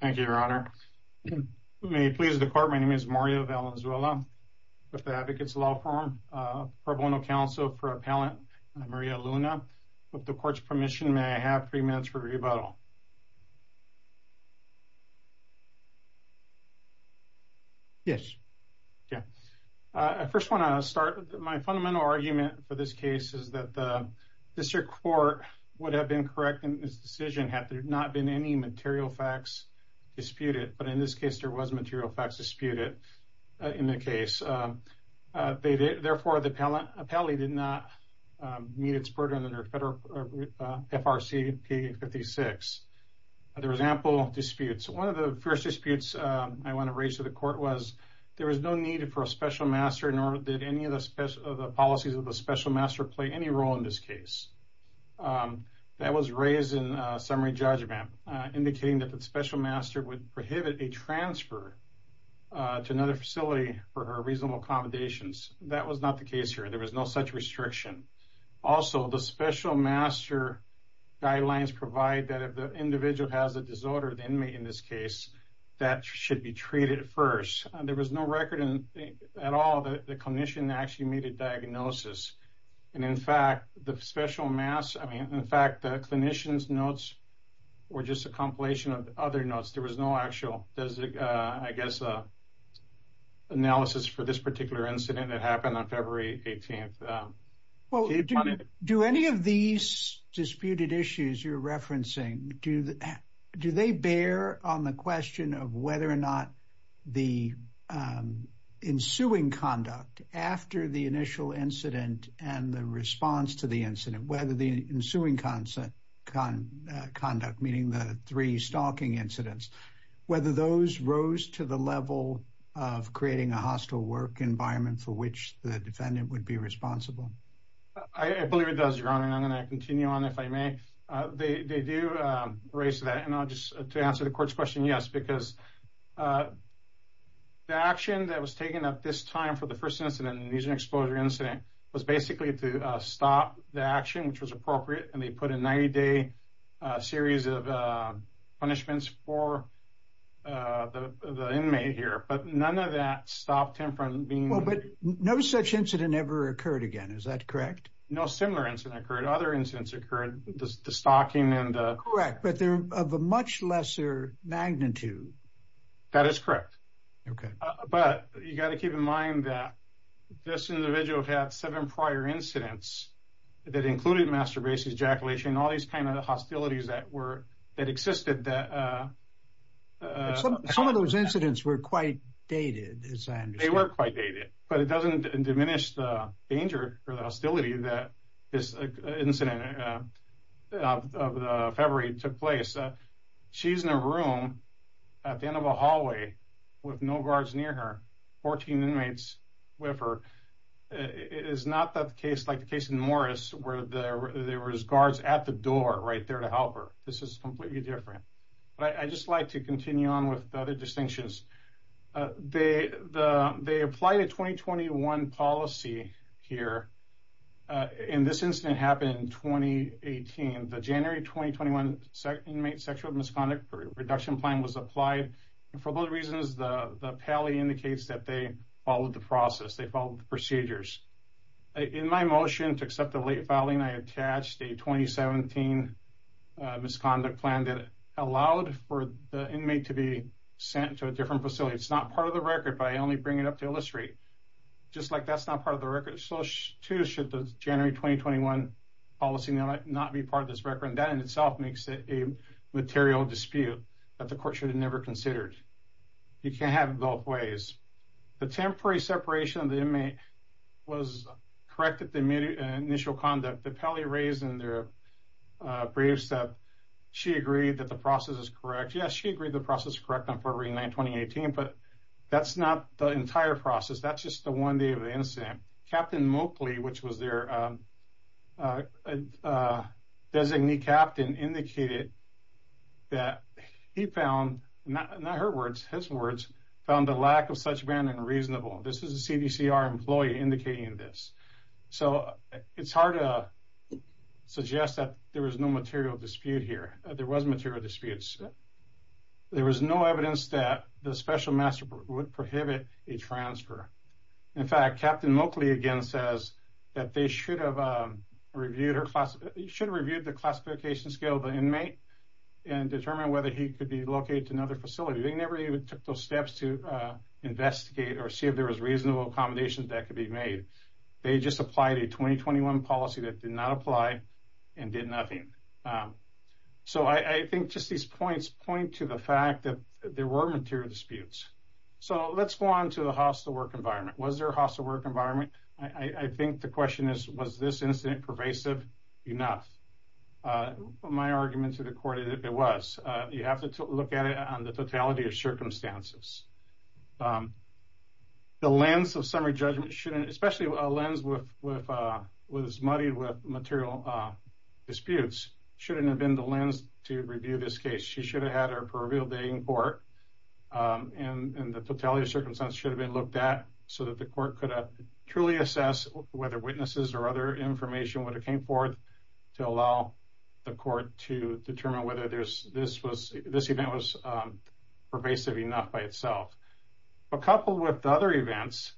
Thank you, Your Honor. May it please the court, my name is Mario Valenzuela, with the Advocates Law Firm, Pro Bono Counsel for Appellant Maria Luna. With the court's permission, may I have three minutes for rebuttal? Yes. Yeah. I first want to start with my fundamental argument for this case is that the district court would have been correct in this decision had there not been any material facts disputed. But in this case, there was material facts disputed in the case. Therefore, the appellee did not meet its burden under FRC P56. There was ample disputes. One of the first disputes I want to raise to the court was there was no need for a special master, nor did any of the policies of the special master play any role in this case. That was raised in summary judgment, indicating that the special master would prohibit a transfer to another facility for her reasonable accommodations. That was not the case here. There was no such restriction. Also, the special master guidelines provide that if the individual has a disorder, the inmate in this case, that should be treated first. There was no record at all that the clinician actually made a diagnosis. And in fact, the special mass, I mean, in fact, the clinician's notes were just a compilation of other notes. There was no actual, I guess, analysis for this particular incident that happened on February 18th. Well, do any of these disputed issues you're referencing, do they bear on the question of whether or not the ensuing conduct after the initial incident and the response to the incident, whether the ensuing conduct, meaning the three stalking incidents, whether those rose to the level of creating a hostile work environment for which the defendant would be responsible? I believe it does, Your Honor. And I'm going to continue on if I may. They do raise that. And I'll just to answer the court's question. Yes, because the action that was taken at this time for the first incident, an exposure incident was basically to stop the action, which was appropriate. And they put a 90-day series of punishments for the inmate here. But none of that stopped him from being. Well, but no such incident ever occurred again. Is that correct? No similar incident occurred. Other incidents occurred, the stalking and. Correct. But they're of a much lesser magnitude. That is correct. OK, but you got to keep in mind that this individual had seven prior incidents that included masturbation, ejaculation, all these kind of hostilities that were that existed. Some of those incidents were quite dated. They were quite dated, but it doesn't diminish the danger or the hostility that this incident of February took place. She's in a room at the end of a hallway with no guards near her. Fourteen inmates with her. It is not that the case like the case in Morris, where there was guards at the door right there to help her. This is completely different. But I just like to continue on with the other distinctions. They the they apply to twenty twenty one policy here in this incident happened in twenty eighteen. The January twenty twenty one inmate sexual misconduct reduction plan was applied for both reasons. The Pally indicates that they followed the process. They followed the procedures in my motion to accept the late filing. I attached a twenty seventeen misconduct plan that allowed for the inmate to be sent to a different facility. It's not part of the record, but I only bring it up to illustrate just like that's not part of the record. So, too, should the January twenty twenty one policy not be part of this record? And that in itself makes it a material dispute that the court should have never considered. You can't have both ways. The temporary separation of the inmate was corrected. The initial conduct that Pally raised in their briefs that she agreed that the process is correct. Yes, she agreed the process is correct on February nine, twenty eighteen. But that's not the entire process. That's just the one day of the incident. Captain Mowgli, which was their designee captain, indicated that he found not her words, his words found the lack of such brand unreasonable. This is a CDCR employee indicating this. So it's hard to suggest that there was no material dispute here. There was material disputes. There was no evidence that the special master would prohibit a transfer. In fact, Captain Mowgli again says that they should have reviewed or should have reviewed the classification scale of the inmate and determine whether he could be located to another facility. They never even took those steps to investigate or see if there was reasonable accommodations that could be made. They just applied a twenty twenty one policy that did not apply and did nothing. So I think just these points point to the fact that there were material disputes. So let's go on to the hostile work environment. Was there a hostile work environment? I think the question is, was this incident pervasive enough? My argument to the court is it was. You have to look at it on the totality of circumstances. The lens of summary judgment shouldn't, especially a lens with was muddied with material disputes, shouldn't have been the lens to review this case. She should have had her pervial being court and the totality of circumstances should have been looked at so that the court could truly assess whether witnesses or other information would have came forth to allow the court to determine whether there's this was this event was pervasive enough by itself. But coupled with other events,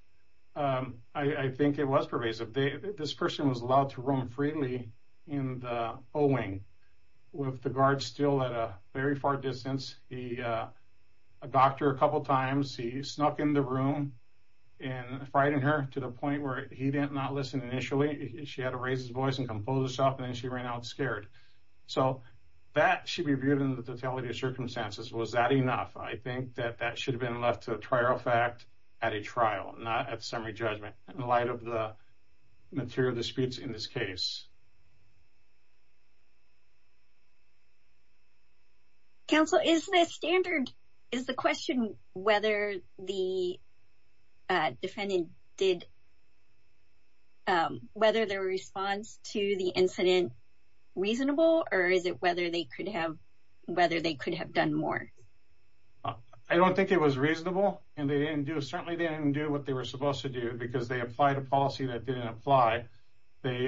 I think it was pervasive. This person was allowed to roam freely in the Owing with the guard still at a very far distance. He a doctor a couple of times. He snuck in the room and frightened her to the point where he did not listen. Initially, she had to raise his voice and compose herself, and then she ran out scared. So that should be viewed in the totality of circumstances. Was that enough? I think that that should have been left to trial fact at a trial, not at summary judgment in light of the material disputes in this case. Counsel is the standard is the question whether the defendant did whether their response to the incident reasonable, or is it whether they could have whether they could have done more. I don't think it was reasonable, and they didn't do certainly didn't do what they were supposed to do because they applied a policy that didn't apply. They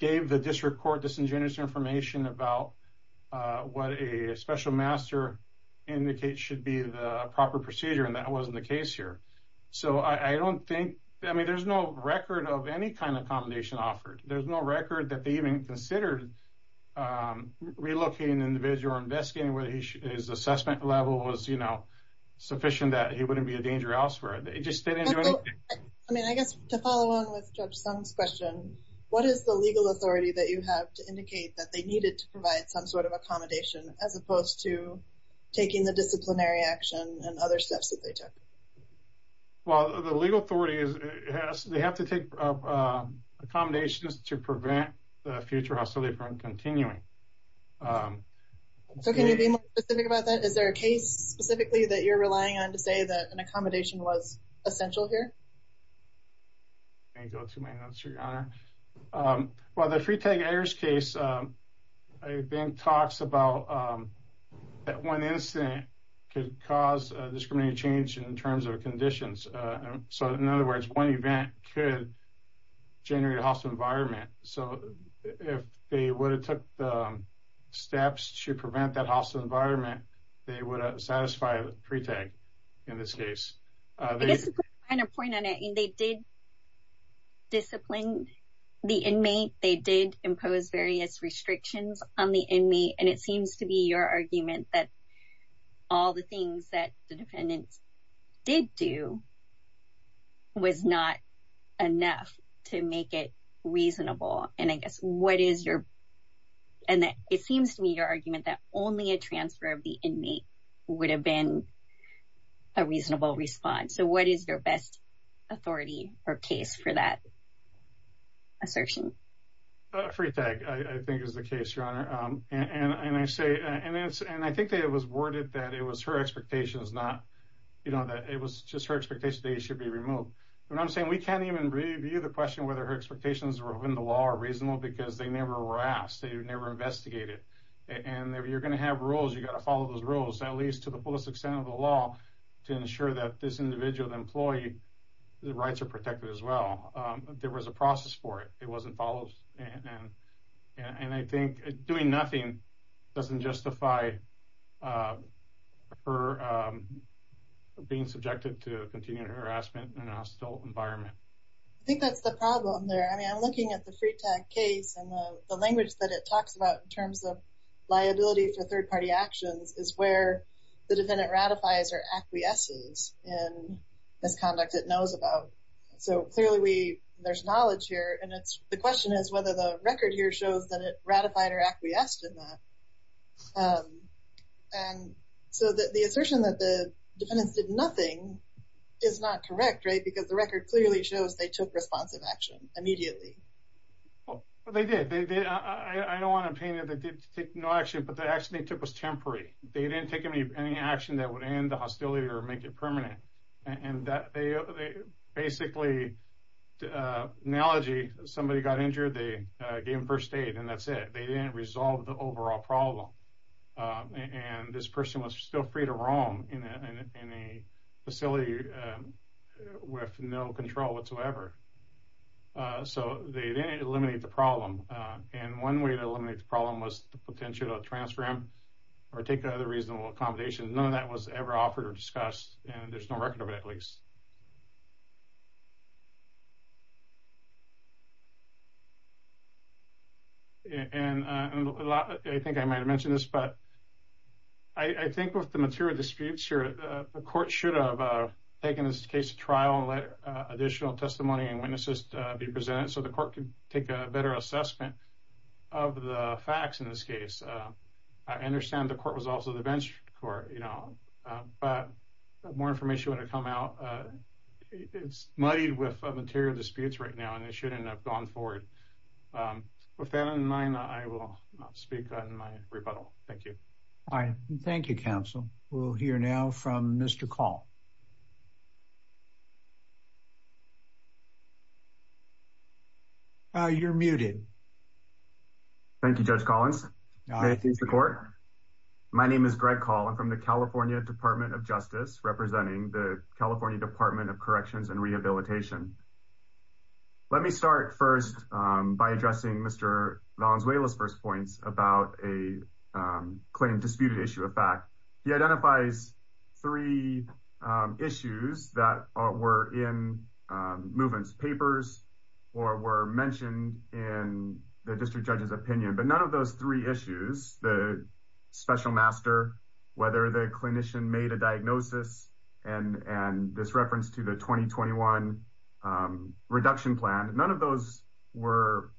gave the district court disingenuous information about what a special master indicate should be the proper procedure and that wasn't the case here. So I don't think I mean, there's no record of any kind of combination offered. There's no record that they even considered relocating individual investigating where he is. Assessment level was, you know, sufficient that he wouldn't be a danger elsewhere. They just didn't do anything. I mean, I guess to follow on with some question. What is the legal authority that you have to indicate that they needed to provide some sort of accommodation as opposed to taking the disciplinary action and other steps that they took? Well, the legal authority is they have to take accommodations to prevent the future hostility from continuing. So can you be specific about that? Is there a case specifically that you're relying on to say that an accommodation was essential here? And go to my answer, your honor. Well, the free tag errors case, I think, talks about that one incident could cause discriminated change in terms of conditions. So, in other words, one event could generate a hostile environment. So if they would have took steps to prevent that hostile environment, they would satisfy the free tag in this case. I guess to put a finer point on it, they did discipline the inmate. They did impose various restrictions on the inmate. And it seems to be your argument that all the things that the defendants did do was not enough to make it reasonable. And it seems to me your argument that only a transfer of the inmate would have been a reasonable response. So what is their best authority or case for that assertion? Free tag, I think, is the case, your honor. And I think that it was worded that it was just her expectation that he should be removed. You know what I'm saying? We can't even review the question whether her expectations were within the law or reasonable because they never were asked. They were never investigated. And you're going to have rules. You've got to follow those rules, at least to the fullest extent of the law, to ensure that this individual, the employee, their rights are protected as well. There was a process for it. It wasn't followed. And I think doing nothing doesn't justify her being subjected to continued harassment in a hostile environment. I think that's the problem there. I mean, I'm looking at the free tag case and the language that it talks about in terms of liability for third-party actions is where the defendant ratifies or acquiesces in misconduct it knows about. So, clearly, there's knowledge here. And the question is whether the record here shows that it ratified or acquiesced in that. And so the assertion that the defendants did nothing is not correct, right, because the record clearly shows they took responsive action immediately. Well, they did. I don't want to opinion that they did take no action, but the action they took was temporary. They didn't take any action that would end the hostility or make it permanent. Basically, analogy, somebody got injured. They gave them first aid, and that's it. They didn't resolve the overall problem. And this person was still free to roam in a facility with no control whatsoever. So they didn't eliminate the problem. And one way to eliminate the problem was the potential to transfer him or take another reasonable accommodation. None of that was ever offered or discussed, and there's no record of it, at least. And I think I might have mentioned this, but I think with the material disputes here, the court should have taken this case to trial and let additional testimony and witnesses be presented so the court could take a better assessment of the facts in this case. I understand the court was also the bench court, but more information would have come out. It's muddied with material disputes right now, and they shouldn't have gone forward. With that in mind, I will speak on my rebuttal. Thank you. All right. Thank you, Counsel. We'll hear now from Mr. Call. You're muted. Thank you, Judge Collins. Thank you, Mr. Court. My name is Greg Call. I'm from the California Department of Justice, representing the California Department of Corrections and Rehabilitation. Let me start first by addressing Mr. Valenzuela's first points about a claim disputed issue of fact. He identifies three issues that were in movements, papers, or were mentioned in the district judge's opinion. But none of those three issues, the special master, whether the clinician made a diagnosis, and this reference to the 2021 reduction plan, none of those were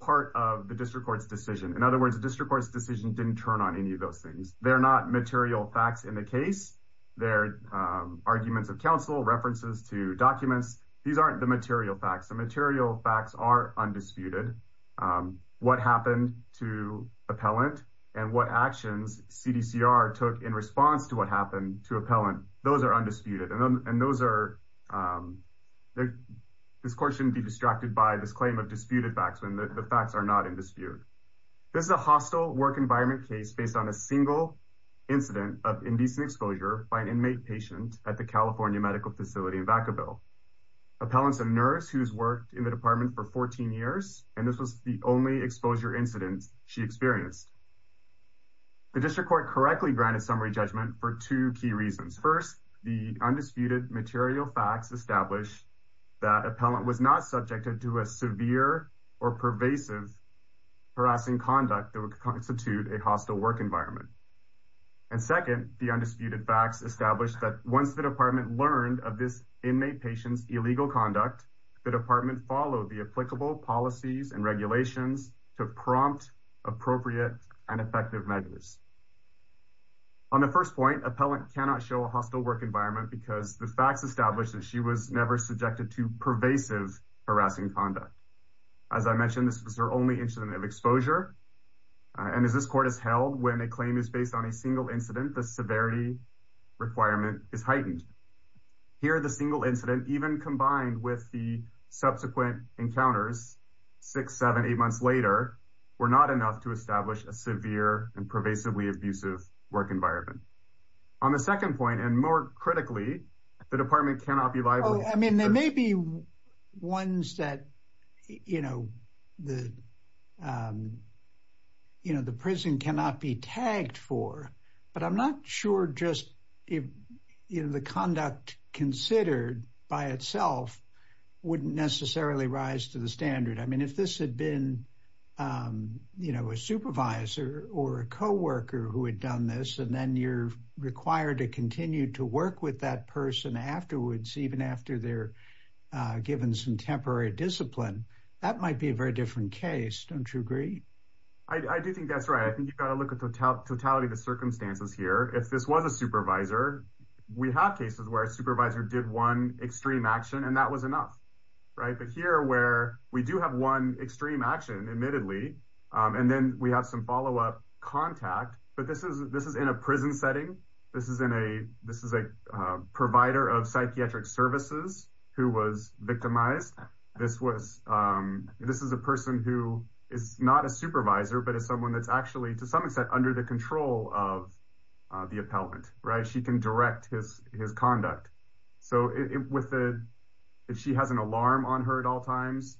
part of the district court's decision. In other words, the district court's decision didn't turn on any of those things. They're not material facts in the case. They're arguments of counsel, references to documents. These aren't the material facts. The material facts are undisputed. What happened to appellant and what actions CDCR took in response to what happened to appellant, those are undisputed. And those are – this court shouldn't be distracted by this claim of disputed facts when the facts are not in dispute. This is a hostile work environment case based on a single incident of indecent exposure by an inmate patient at the California medical facility in Vacaville. Appellant's a nurse who's worked in the department for 14 years, and this was the only exposure incident she experienced. The district court correctly granted summary judgment for two key reasons. First, the undisputed material facts established that appellant was not subjected to a severe or pervasive harassing conduct that would constitute a hostile work environment. And second, the undisputed facts established that once the department learned of this inmate patient's illegal conduct, the department followed the applicable policies and regulations to prompt appropriate and effective measures. On the first point, appellant cannot show a hostile work environment because the facts established that she was never subjected to pervasive harassing conduct. As I mentioned, this was her only incident of exposure. And as this court has held, when a claim is based on a single incident, the severity requirement is heightened. Here, the single incident, even combined with the subsequent encounters six, seven, eight months later, were not enough to establish a severe and pervasively abusive work environment. On the second point, and more critically, the department cannot be – So, I mean, there may be ones that, you know, the prison cannot be tagged for, but I'm not sure just if the conduct considered by itself wouldn't necessarily rise to the standard. I mean, if this had been, you know, a supervisor or a co-worker who had done this, and then you're required to continue to work with that person afterwards, even after they're given some temporary discipline, that might be a very different case. Don't you agree? I do think that's right. I think you've got to look at the totality of the circumstances here. If this was a supervisor, we have cases where a supervisor did one extreme action, and that was enough, right? But here, where we do have one extreme action, admittedly, and then we have some follow-up contact, but this is in a prison setting. This is a provider of psychiatric services who was victimized. This is a person who is not a supervisor, but is someone that's actually, to some extent, under the control of the appellant, right? She can direct his conduct. So, if she has an alarm on her at all times,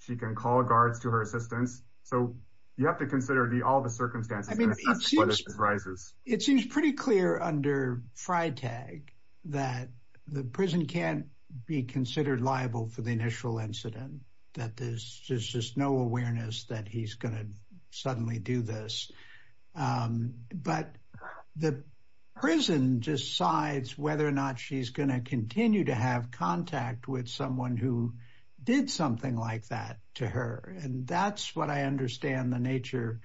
she can call guards to her assistance. So, you have to consider all the circumstances. It seems pretty clear under FRITAG that the prison can't be considered liable for the initial incident, that there's just no awareness that he's going to suddenly do this. But the prison decides whether or not she's going to continue to have contact with someone who did something like that to her. And that's what I understand the nature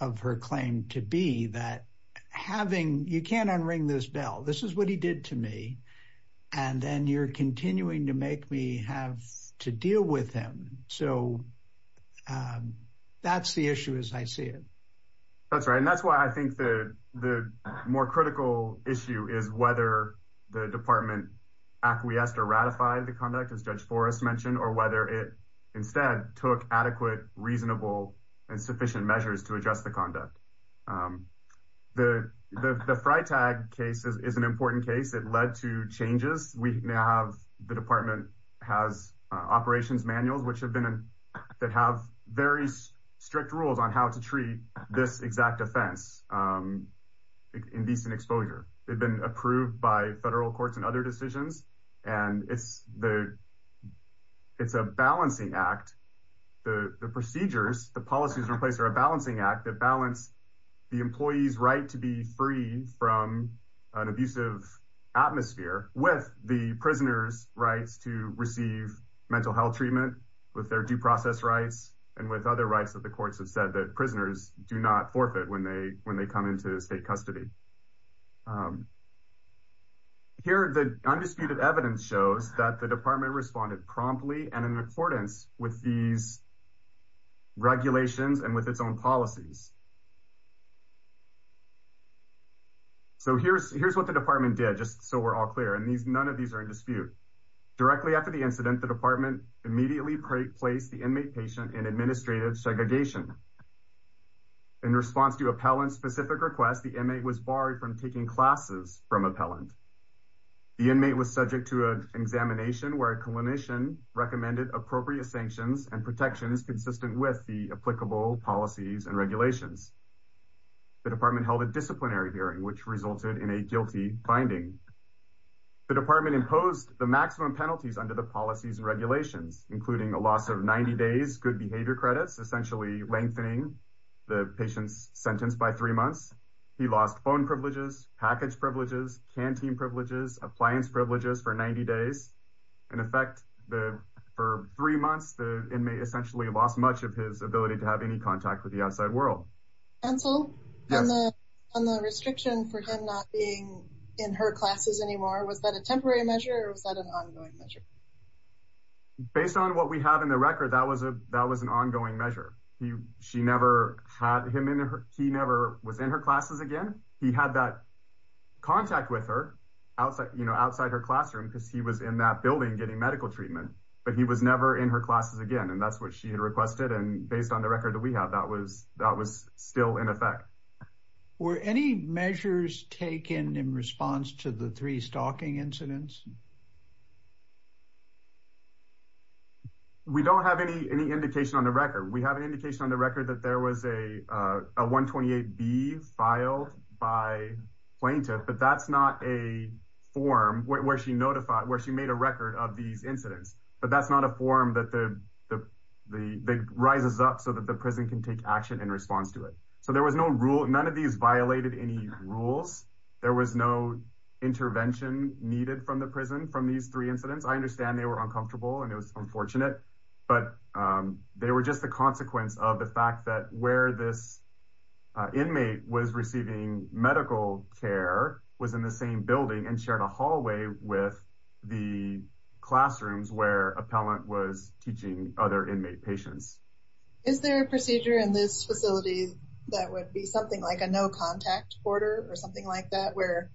of her claim to be, that you can't unring this bell. This is what he did to me, and then you're continuing to make me have to deal with him. So, that's the issue as I see it. That's right, and that's why I think the more critical issue is whether the department acquiesced or ratified the conduct, as Judge Forrest mentioned, or whether it instead took adequate, reasonable, and sufficient measures to adjust the conduct. The FRITAG case is an important case. It led to changes. The department has operations manuals that have very strict rules on how to treat this exact offense in decent exposure. They've been approved by federal courts and other decisions, and it's a balancing act. The procedures, the policies in place are a balancing act that balance the employee's right to be free from an abusive atmosphere with the prisoner's rights to receive mental health treatment, with their due process rights, and with other rights that the courts have said that prisoners do not forfeit when they come into state custody. Here, the undisputed evidence shows that the department responded promptly and in accordance with these regulations and with its own policies. So, here's what the department did, just so we're all clear, and none of these are in dispute. Directly after the incident, the department immediately placed the inmate patient in administrative segregation. In response to appellant-specific requests, the inmate was barred from taking classes from appellant. The inmate was subject to an examination where a clinician recommended appropriate sanctions and protections consistent with the applicable policies and regulations. The department held a disciplinary hearing, which resulted in a guilty finding. The department imposed the maximum penalties under the policies and regulations, including a loss of 90 days, good behavior credits, essentially lengthening the patient's sentence by three months. He lost phone privileges, package privileges, canteen privileges, appliance privileges for 90 days. In effect, for three months, the inmate essentially lost much of his ability to have any contact with the outside world. Hansel, on the restriction for him not being in her classes anymore, was that a temporary measure or was that an ongoing measure? Based on what we have in the record, that was an ongoing measure. He never was in her classes again. He had that contact with her outside her classroom because he was in that building getting medical treatment. But he was never in her classes again, and that's what she had requested. And based on the record that we have, that was still in effect. Were any measures taken in response to the three stalking incidents? We don't have any indication on the record. We have an indication on the record that there was a 128B filed by plaintiff, but that's not a form where she made a record of these incidents. But that's not a form that rises up so that the prison can take action in response to it. So there was no rule. None of these violated any rules. There was no intervention needed from the prison from these three incidents. I understand they were uncomfortable and it was unfortunate, but they were just the consequence of the fact that where this inmate was receiving medical care was in the same building and she had a hallway with the classrooms where appellant was teaching other inmate patients. Is there a procedure in this facility that would be something like a no contact order or something like that where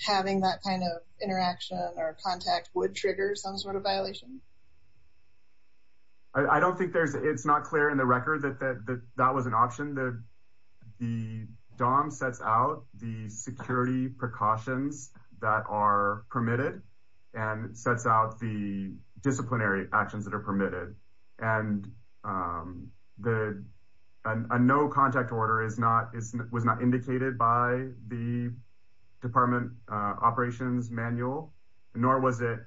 having that kind of interaction or contact would trigger some sort of violation? I don't think there's it's not clear in the record that that was an option. The DOM sets out the security precautions that are permitted and sets out the disciplinary actions that are permitted. And a no contact order was not indicated by the department operations manual, nor was it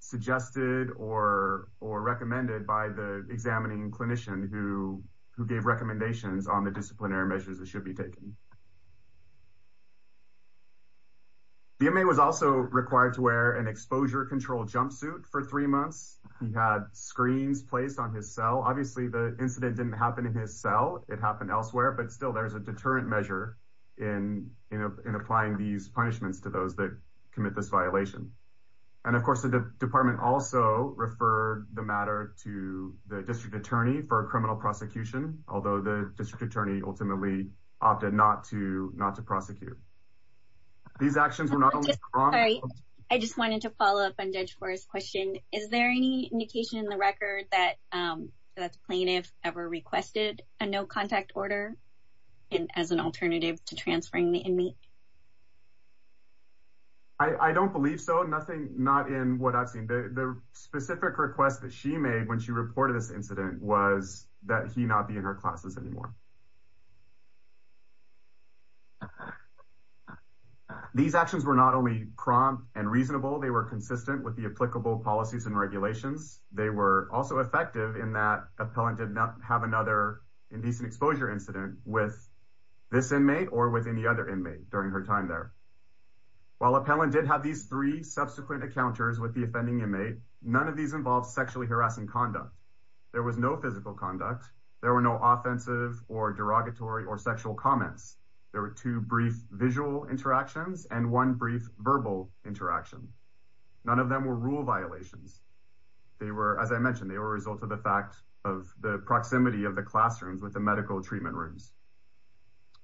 suggested or recommended by the examining clinician who gave recommendations on the disciplinary measures that should be taken. The inmate was also required to wear an exposure control jumpsuit for three months. He had screens placed on his cell. Obviously, the incident didn't happen in his cell. It happened elsewhere, but still there is a deterrent measure in applying these punishments to those that commit this violation. And of course, the department also referred the matter to the district attorney for a criminal prosecution, although the district attorney ultimately opted not to not to prosecute. These actions were not only wrong. I just wanted to follow up on Judge Forrest's question. Is there any indication in the record that the plaintiff ever requested a no contact order as an alternative to transferring the inmate? I don't believe so. No, nothing. Not in what I've seen. The specific request that she made when she reported this incident was that he not be in her classes anymore. These actions were not only prompt and reasonable, they were consistent with the applicable policies and regulations. They were also effective in that appellant did not have another indecent exposure incident with this inmate or with any other inmate during her time there. While appellant did have these three subsequent encounters with the offending inmate, none of these involved sexually harassing conduct. There was no physical conduct. There were no offensive or derogatory or sexual comments. There were two brief visual interactions and one brief verbal interaction. None of them were rule violations. They were, as I mentioned, they were a result of the fact of the proximity of the classrooms with the medical treatment rooms.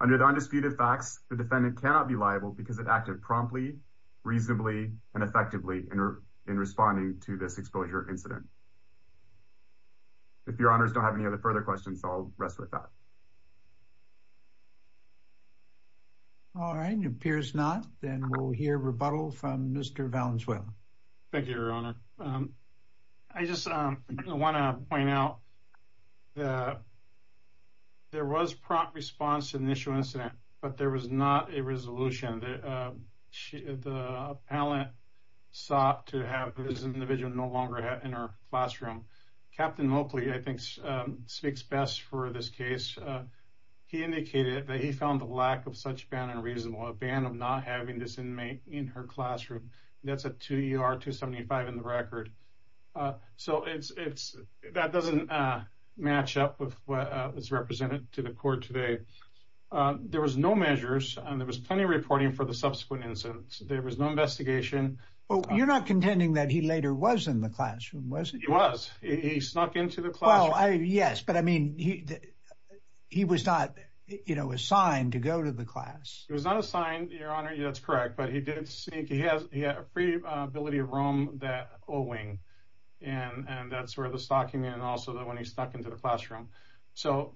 Under the undisputed facts, the defendant cannot be liable because it acted promptly, reasonably, and effectively in responding to this exposure incident. If your honors don't have any other further questions, I'll rest with that. All right, it appears not. Then we'll hear rebuttal from Mr. Valenzuela. Thank you, your honor. I just want to point out that there was prompt response to the initial incident, but there was not a resolution. The appellant sought to have this individual no longer in her classroom. Captain Moakley, I think, speaks best for this case. He indicated that he found the lack of such ban unreasonable, a ban of not having this inmate in her classroom. That's a 2 ER 275 in the record. So it's it's that doesn't match up with what was represented to the court today. There was no measures and there was plenty of reporting for the subsequent incidents. There was no investigation. Well, you're not contending that he later was in the classroom, was it? He was. He snuck into the class. Yes, but I mean, he he was not, you know, assigned to go to the class. It was not assigned, your honor. That's correct. But he did sneak. He has a free ability of Rome that owing. And that's where the stocking and also that when he stuck into the classroom. So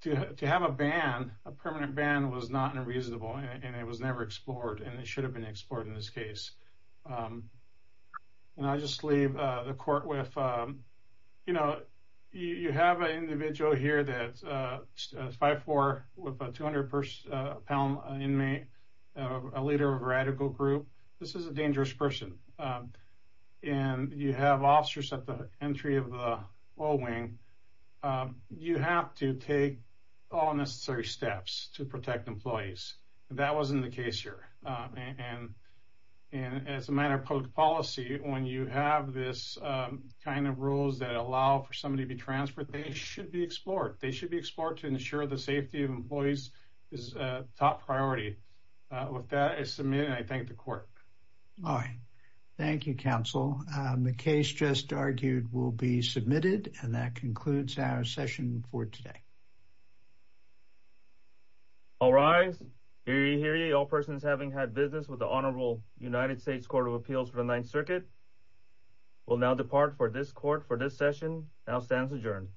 to have a ban, a permanent ban was not unreasonable. And it was never explored. And it should have been explored in this case. And I just leave the court with, you know, you have an individual here that five four with a 200 pound inmate, a leader of radical group. This is a dangerous person. And you have officers at the entry of the Owing. You have to take all necessary steps to protect employees. That wasn't the case here. And as a matter of public policy, when you have this kind of rules that allow for somebody to be transferred, they should be explored. They should be explored to ensure the safety of employees is top priority. With that, I submit. I thank the court. All right. Thank you, counsel. The case just argued will be submitted. And that concludes our session for today. All right. Hear ye, hear ye. All persons having had business with the Honorable United States Court of Appeals for the Ninth Circuit will now depart for this court for this session. Now stands adjourned.